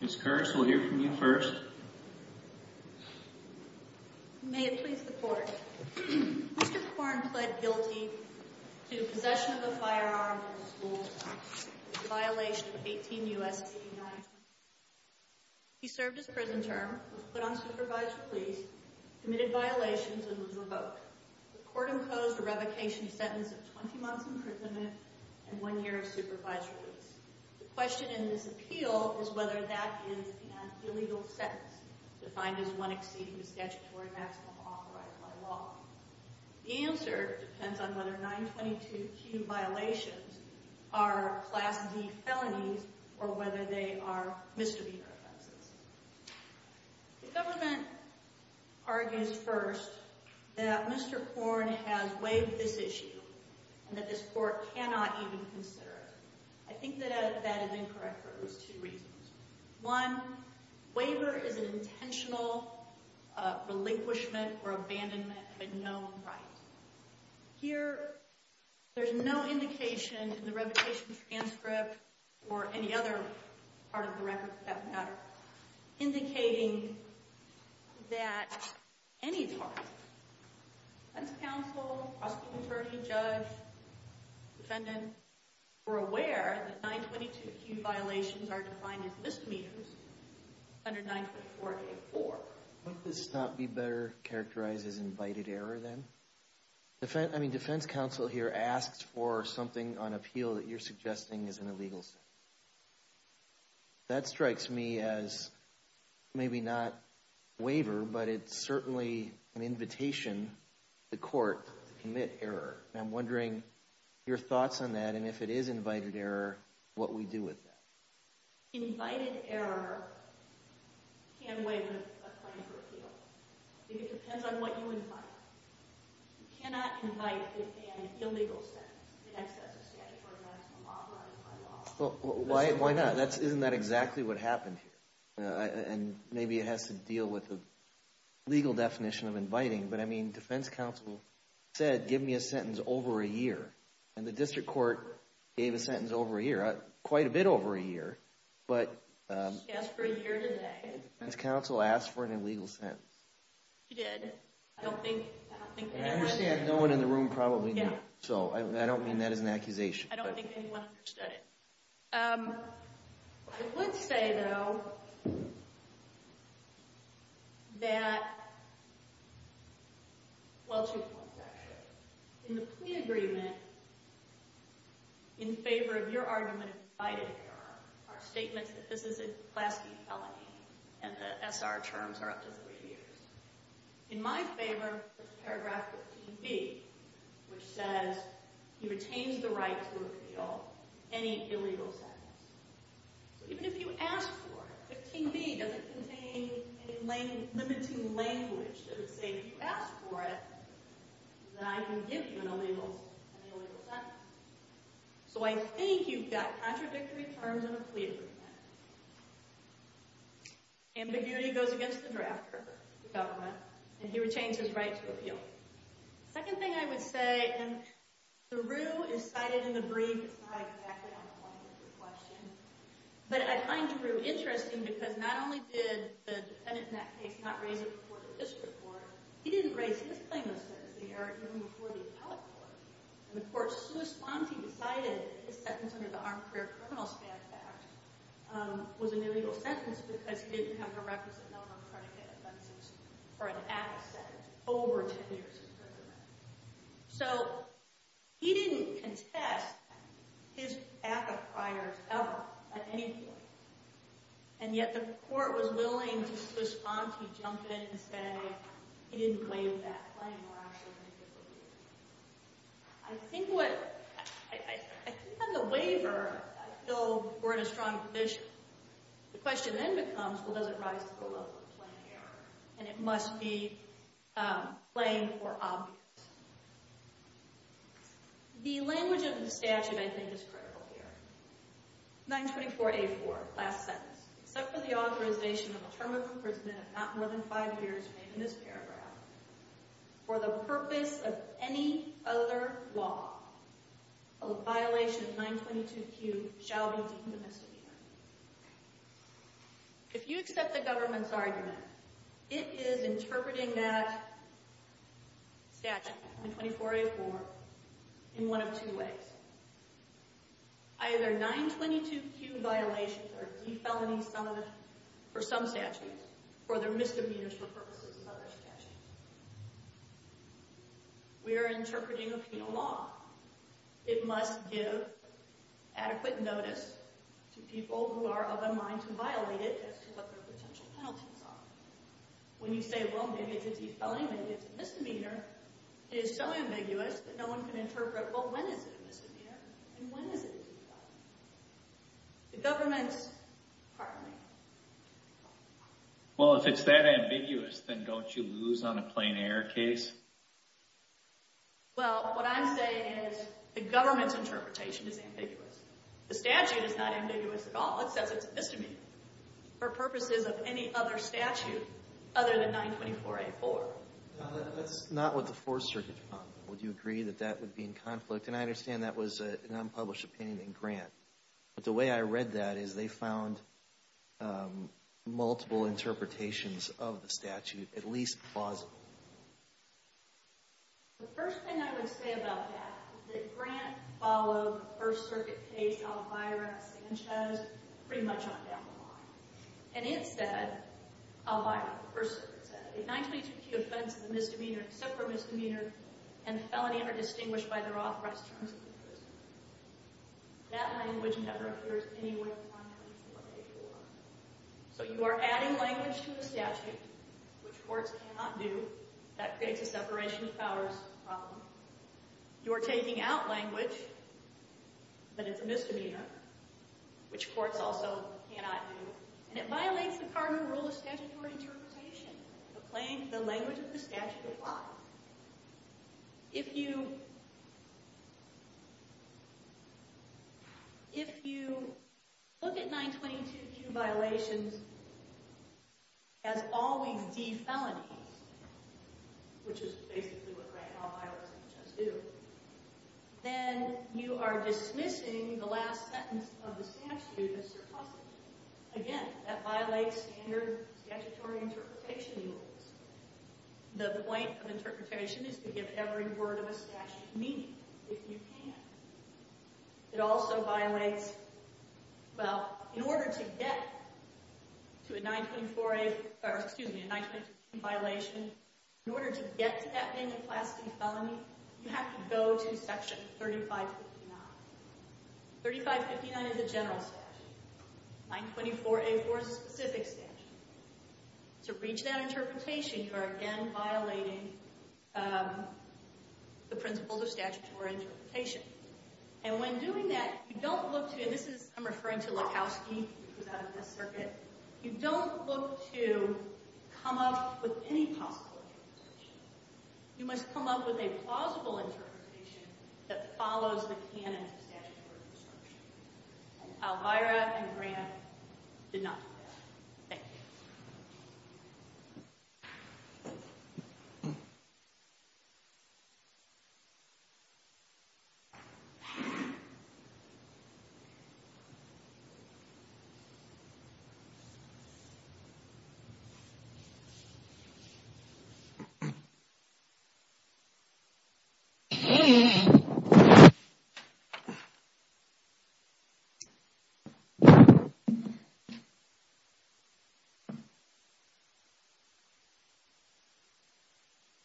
Ms. Kurtz, we'll hear from you first. May it please the Court. Mr. Corn pled guilty to possession of a firearm in the school town, in violation of 18 U.S.C. 921. He served his prison term, was put on supervised release, committed violations, and was revoked. The Court imposed a revocation sentence of 20 months imprisonment and one year of supervised release. The question in this appeal is whether that is an illegal sentence, defined as one exceeding the statutory maximum authorized by law. The answer depends on whether 922 Q violations are Class D felonies or whether they are misdemeanor offenses. The government argues first that Mr. Corn has waived this issue and that this Court cannot even consider it. I think that that is incorrect for at least two reasons. One, waiver is an intentional relinquishment or abandonment of a known right. Here, there's no indication in the revocation transcript, or any other part of the record for that matter, indicating that any time, defense counsel, hospital attorney, judge, defendant, were aware that 922 Q violations are defined as misdemeanors under 924 K4. Wouldn't this not be better characterized as invited error then? I mean, defense counsel here asks for something on appeal that you're suggesting is an illegal sentence. That strikes me as maybe not waiver, but it's certainly an invitation to court to commit error. And I'm wondering your thoughts on that, and if it is invited error, what we do with that. Invited error can't waive a claim for appeal. It depends on what you invite. You cannot invite an illegal sentence in excess of statutory maximum law. Why not? Isn't that exactly what happened here? And maybe it has to deal with the legal definition of inviting, but I mean, defense counsel said, give me a sentence over a year. And the district court gave a sentence over a year, quite a bit over a year. She asked for a year today. Defense counsel asked for an illegal sentence. She did. I don't think anyone... And I understand no one in the room probably knew, so I don't mean that as an accusation. I don't think anyone understood it. I would say, though, that... well, two points, actually. In the plea agreement, in favor of your argument of invited error, are statements that this is a Pulaski felony, and the SR terms are up to three years. In my favor is paragraph 15b, which says he retains the right to appeal any illegal sentence. So even if you ask for it, 15b doesn't contain any limiting language that would say, if you ask for it, then I can give you an illegal sentence. So I think you've got contradictory terms in a plea agreement. Ambiguity goes against the drafter, the government, and he retains his right to appeal. Second thing I would say, and the rue is cited in the brief, it's not exactly on the line of the question, but I find the rue interesting because not only did the defendant in that case not raise it before the district court, he didn't raise his claim of service of the error even before the appellate court. And the court's sua sponte decided that his sentence under the Armed Career Criminals Facts Act was an illegal sentence because he didn't have the records of no non-predicate offenses for an act of sentence over 10 years. So he didn't contest his act of priors ever, at any point. And yet the court was willing to sua sponte, jump in and say, he didn't waive that claim or actually make it illegal. I think on the waiver, I feel we're in a strong position. The question then becomes, well, does it rise to the level of plain error? And it must be plain or obvious. The language of the statute, I think, is critical here. 924A4, last sentence. Except for the authorization of a term of imprisonment of not more than five years, made in this paragraph, for the purpose of any other law, a violation of 922Q shall be deemed a misdemeanor. If you accept the government's argument, it is interpreting that statute, 924A4, in one of two ways. Either 922Q violations are defelony for some statutes, or they're misdemeanors for purposes of other statutes. We are interpreting a penal law. It must give adequate notice to people who are of a mind to violate it as to what their potential penalties are. When you say, well, maybe it's a defelony, maybe it's a misdemeanor, it is so ambiguous that no one can interpret, well, when is it a misdemeanor? And when is it a defelony? The government's partly. Well, if it's that ambiguous, then don't you lose on a plain error case? Well, what I'm saying is the government's interpretation is ambiguous. The statute is not ambiguous at all. It says it's a misdemeanor for purposes of any other statute other than 924A4. That's not what the Fourth Circuit found. Would you agree that that would be in conflict? And I understand that was an unpublished opinion in Grant. But the way I read that is they found multiple interpretations of the statute at least plausible. The first thing I would say about that is that Grant followed the First Circuit case, Alvarez, Sanchez, pretty much on down the line. And it said, Alvarez, the First Circuit said, a 922P offense is a misdemeanor except for a misdemeanor, and a felony under distinguished by their authorized terms of the prison. That language never appears anywhere on 924A4. So you are adding language to the statute, which courts cannot do. That creates a separation of powers problem. You are taking out language, but it's a misdemeanor, which courts also cannot do. And it violates the cardinal rule of statutory interpretation. The language of the statute applies. If you look at 922Q violations as always D felonies, which is basically what Grant and Alvarez and Sanchez do, then you are dismissing the last sentence of the statute as surplus. Again, that violates standard statutory interpretation rules. The point of interpretation is to give every word of a statute meaning, if you can. It also violates, well, in order to get to a 924A, or excuse me, a 922Q violation, in order to get to that vandal classity felony, you have to go to section 3559. 3559 is a general statute. 924A4 is a specific statute. To reach that interpretation, you are again violating the principles of statutory interpretation. And when doing that, you don't look to, and this is, I'm referring to Lakowski, who was out of this circuit, you don't look to come up with any possible interpretation. You must come up with a plausible interpretation that follows the canon of statutory interpretation. And Alvarez and Grant did not do that. Thank you. Thank you.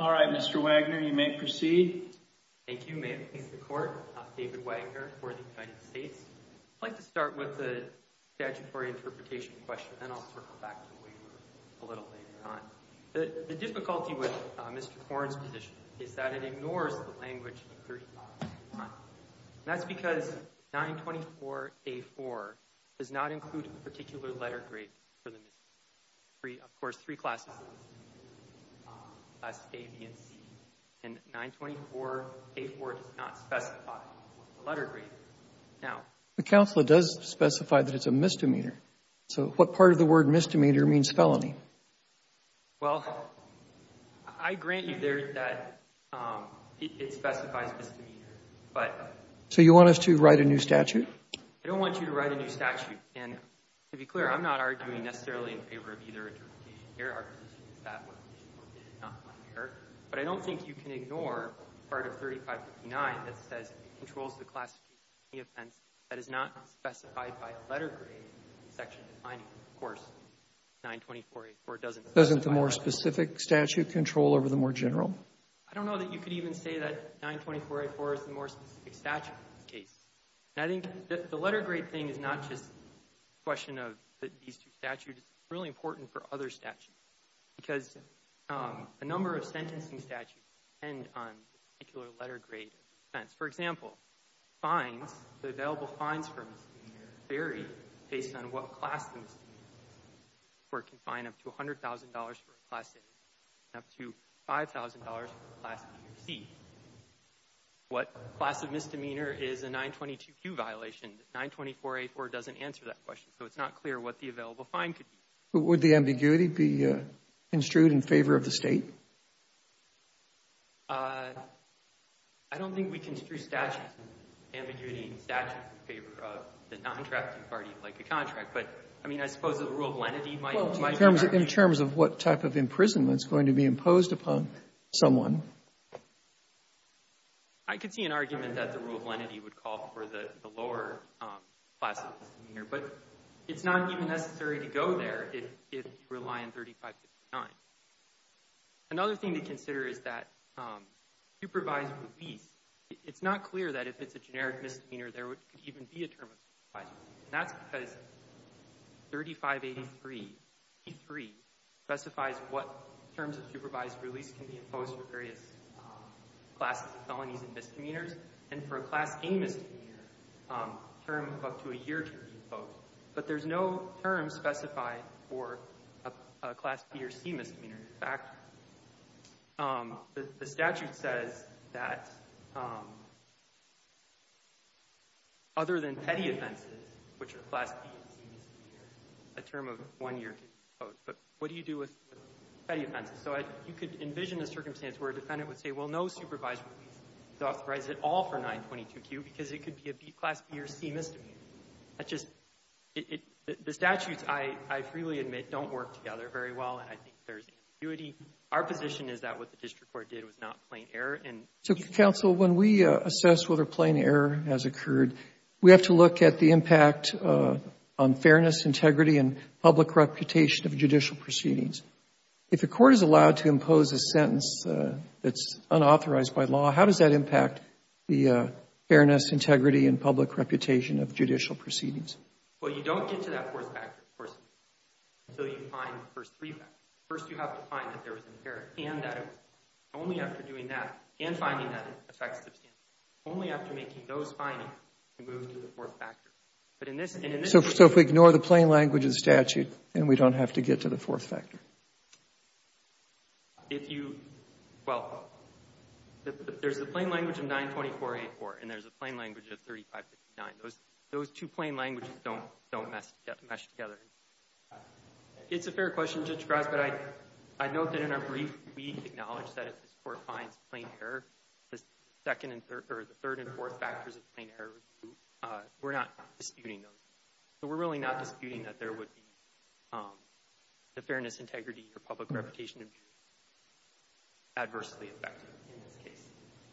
All right, Mr. Wagner, you may proceed. Thank you. May it please the Court, I'm David Wagner for the United States. I'd like to start with the statutory interpretation question, and I'll circle back to the waiver a little later on. The difficulty with Mr. Horne's position is that it ignores the language in 3559. And that's because 924A4 does not include a particular letter grade for the misdemeanor. Of course, three classes of misdemeanors, Class A, B, and C. And 924A4 does not specify a letter grade. Now, The counselor does specify that it's a misdemeanor. So what part of the word misdemeanor means felony? Well, I grant you there that it specifies misdemeanor. But So you want us to write a new statute? I don't want you to write a new statute. And to be clear, I'm not arguing necessarily in favor of either interpretation But I don't think you can ignore part of 3559 that says it controls the classification of any offense that is not specified by letter grade in the section defining it. Of course, 924A4 doesn't specify that. Doesn't the more specific statute control over the more general? I don't know that you could even say that 924A4 is the more specific statute in this case. And I think the letter grade thing is not just a question of these two statutes. It's really important for other statutes. Because a number of sentencing statutes depend on particular letter grade offense. For example, fines, the available fines for a misdemeanor vary based on what class the misdemeanor is. Where it can fine up to $100,000 for a class A and up to $5,000 for a class B or C. What class of misdemeanor is a 922Q violation, 924A4 doesn't answer that question. So it's not clear what the available fine could be. But would the ambiguity be construed in favor of the State? I don't think we construe statutes, ambiguity in the statute, in favor of the non-trafficking party like a contract. But, I mean, I suppose the rule of lenity might not. In terms of what type of imprisonment is going to be imposed upon someone. I could see an argument that the rule of lenity would call for the lower class of misdemeanor. But it's not even necessary to go there if you rely on 3559. Another thing to consider is that supervised release, it's not clear that if it's a generic misdemeanor there could even be a term of supervised release. And that's because 3583 specifies what terms of supervised release can be imposed for various classes of felonies and misdemeanors. And for a Class A misdemeanor, a term of up to a year can be imposed. But there's no term specified for a Class B or C misdemeanor. In fact, the statute says that other than petty offenses, which are Class B and C misdemeanors, a term of one year can be imposed. But what do you do with petty offenses? So you could envision a circumstance where a defendant would say, well, no supervised release is authorized at all for 922Q, because it could be a B Class B or C misdemeanor. That's just the statutes, I freely admit, don't work together very well, and I think there's intuity. Our position is that what the district court did was not plain error. And so, counsel, when we assess whether plain error has occurred, we have to look at the impact on fairness, integrity, and public reputation of judicial proceedings. If the court is allowed to impose a sentence that's unauthorized by law, how does that impact the fairness, integrity, and public reputation of judicial proceedings? Well, you don't get to that fourth factor, of course, until you find the first three factors. First, you have to find that there was an error, and that it was. Only after doing that, and finding that it affects the standard, only after making those findings, can we move to the fourth factor. But in this case we can't. So if we ignore the plain language of the statute, then we don't have to get to the fourth factor. If you, well, there's the plain language of 924-84, and there's a plain language of 35-59. Those two plain languages don't mesh together. It's a fair question, Judge Gross, but I note that in our brief, we acknowledge that if this court finds plain error, the third and fourth factors of plain error, we're not disputing those. So we're really not disputing that there would be the fairness, integrity, or public reputation to be adversely affected in this case.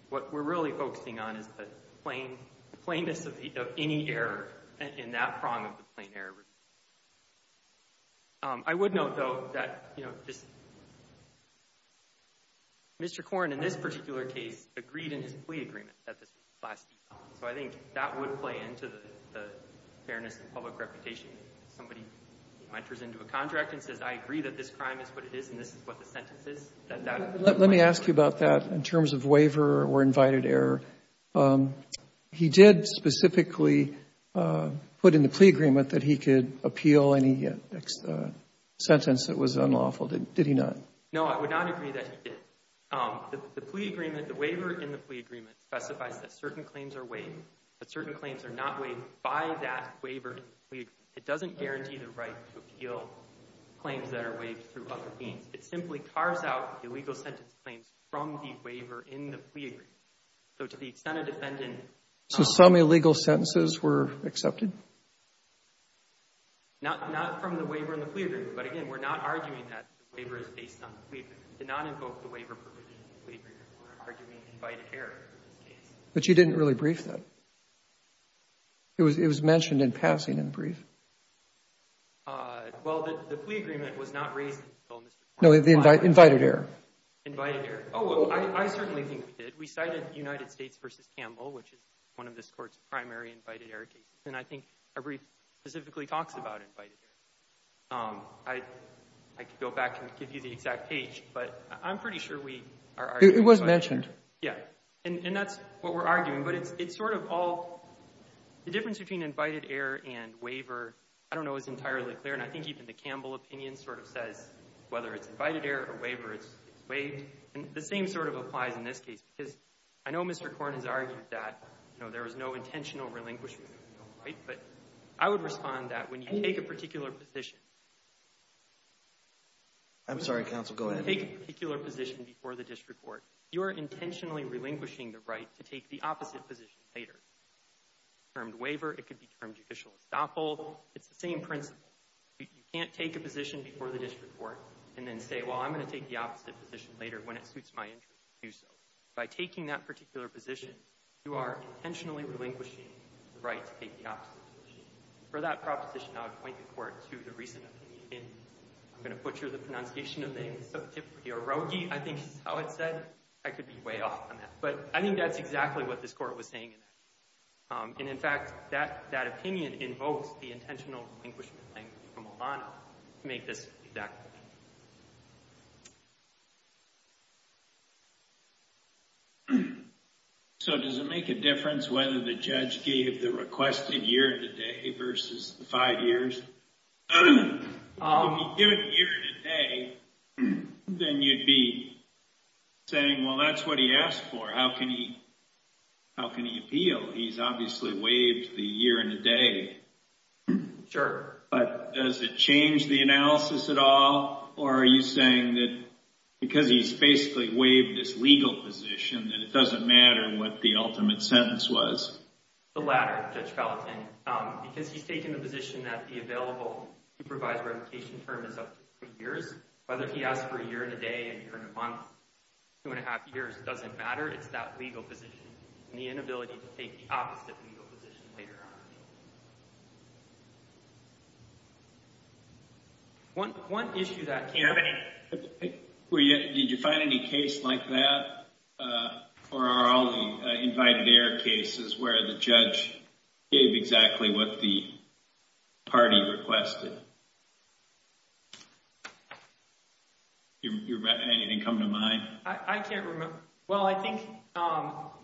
What we're really focusing on is the plainness of any error in that prong of the plain error review. I would note, though, that Mr. Corn, in this particular case, agreed in his plea agreement that this was class D. So I think that would play into the fairness and public reputation. If somebody enters into a contract and says, I agree that this crime is what it is and this is what the sentence is, that that would play into that. Roberts, let me ask you about that in terms of waiver or invited error. He did specifically put in the plea agreement that he could appeal any sentence that was unlawful. Did he not? No, I would not agree that he did. The plea agreement, the waiver in the plea agreement specifies that certain claims are waived. But certain claims are not waived by that waiver. It doesn't guarantee the right to appeal claims that are waived through other means. It simply carves out illegal sentence claims from the waiver in the plea agreement. So to the extent a defendant So some illegal sentences were accepted? Not from the waiver in the plea agreement. But again, we're not arguing that the waiver is based on the plea agreement. We did not invoke the waiver provision in the plea agreement. We're arguing invited error in this case. But you didn't really brief them? It was mentioned in passing in the brief. Well, the plea agreement was not raised in the plea agreement. No, the invited error. Invited error. Oh, well, I certainly think we did. We cited United States v. Campbell, which is one of this Court's primary invited error cases. And I think our brief specifically talks about invited error. I could go back and give you the exact page, but I'm pretty sure we are arguing It was mentioned. Yeah. And that's what we're arguing. But it's sort of all the difference between invited error and waiver, I don't know, is entirely clear. And I think even the Campbell opinion sort of says whether it's invited error or waiver, it's waived. And the same sort of applies in this case, because I know Mr. Corn has argued that, you know, there was no intentional relinquishment, right? But I would respond that when you take a particular position. I'm sorry, counsel. Go ahead. Take a particular position before the district court. You are intentionally relinquishing the right to take the opposite position later. It could be termed waiver. It could be termed judicial estoppel. It's the same principle. You can't take a position before the district court and then say, well, I'm going to take the opposite position later when it suits my interest to do so. By taking that particular position, you are intentionally relinquishing the right to take the opposite position. For that proposition, I would point the court to the recent opinion. I'm going to butcher the pronunciation of the name. I think this is how it's said. I could be way off on that. But I think that's exactly what this court was saying. And in fact, that opinion invokes the intentional relinquishment language from Obama to make this exact point. So does it make a difference whether the judge gave the requested year today versus the five years? If you give it a year and a day, then you'd be saying, well, that's what he asked for. How can he appeal? He's obviously waived the year and a day. Sure. But does it change the analysis at all? Or are you saying that because he's basically waived his legal position, that it doesn't matter what the ultimate sentence was? The latter, Judge Gallatin. Because he's taken the position that the available supervised revocation term is up to three years, whether he asked for a year and a day, a year and a month, two and a half years, it doesn't matter. It's that legal position and the inability to take the opposite legal position later on. One issue that came up. Did you find any case like that? Or are all the invited error cases where the judge gave exactly what the party requested? Anything come to mind? I can't remember. Well, I think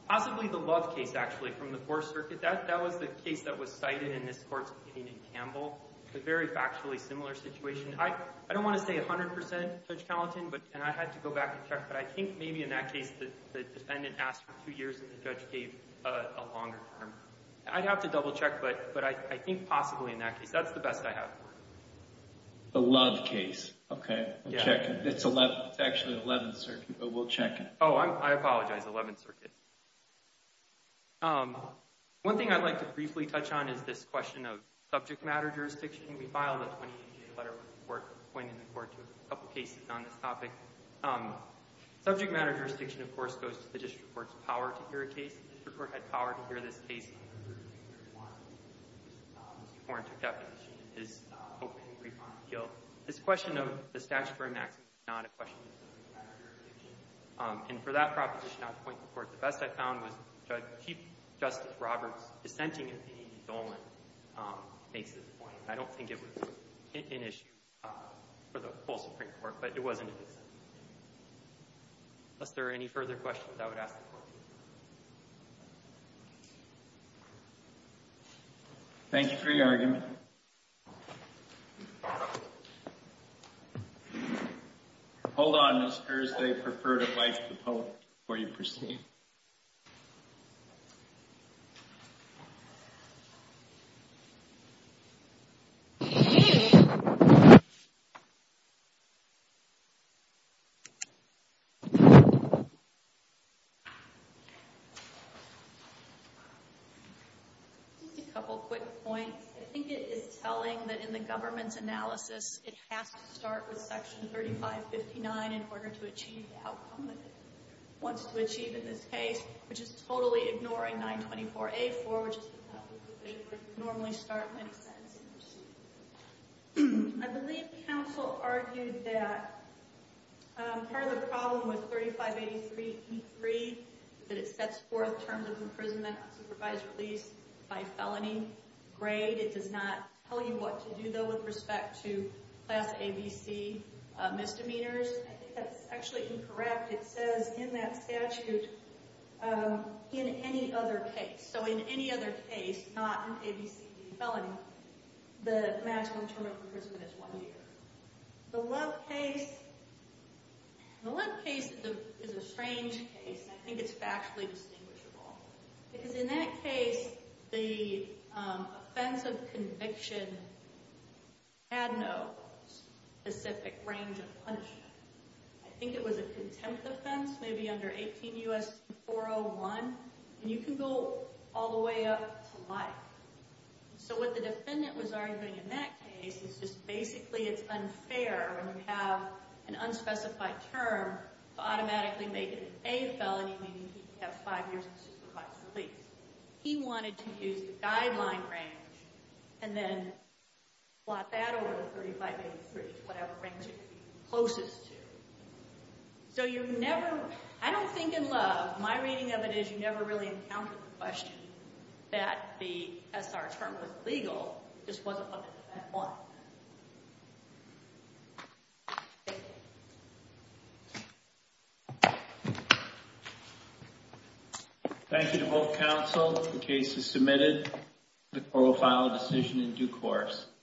possibly the Love case, actually, from the Fourth Circuit. That was the case that was cited in this court's opinion in Campbell. A very factually similar situation. I don't want to say 100%, Judge Gallatin, and I had to go back and check, but I think maybe in that case the defendant asked for two years and the judge gave a longer term. I'd have to double check, but I think possibly in that case. That's the best I have. The Love case. Okay. It's actually the Eleventh Circuit, but we'll check it. Oh, I apologize. Eleventh Circuit. Eleventh Circuit. One thing I'd like to briefly touch on is this question of subject matter jurisdiction. We filed a 20-page letter with the court appointing the court to a couple cases on this topic. Subject matter jurisdiction, of course, goes to the district court's power to hear a case. The district court had power to hear this case. Mr. Horne took that position in his opening brief on appeal. This question of the statute for a maximum is not a question of subject matter jurisdiction. And for that proposition, I'd appoint the court. The best I found was Chief Justice Roberts' dissenting opinion of Dolan makes this point. I don't think it was an issue for the full Supreme Court, but it wasn't a dissenting opinion. Unless there are any further questions, I would ask the court to do so. Thank you for your argument. All right. Hold on, Mr. Erste. I'd prefer to invite the public before you proceed. Excuse me. Just a couple quick points. I think it is telling that in the government's analysis, it has to start with Section 3559 in order to achieve the outcome that it wants to achieve in this case, which is totally ignoring 924A4, which is the type of felony sentencing. I believe counsel argued that part of the problem with 3583E3 is that it sets forth terms of imprisonment on supervised release by felony grade. It does not tell you what to do, though, with respect to class ABC misdemeanors. I think that's actually incorrect. It says in that statute, in any other case, so in any other case, not in this case, the felony, the maximum term of imprisonment is one year. The Love case is a strange case. I think it's factually distinguishable. Because in that case, the offense of conviction had no specific range of punishment. I think it was a contempt offense, maybe under 18 U.S. 401. You can go all the way up to life. What the defendant was arguing in that case is just basically it's unfair when you have an unspecified term to automatically make it a felony, meaning you have five years of supervised release. He wanted to use the guideline range and then plot that over the 3583, whatever range it could be closest to. I don't think in Love, my reading of it is you never really encountered the question that the SR term was legal. It just wasn't up to that point. Thank you to both counsel. The case is submitted. The court will file a decision in due course.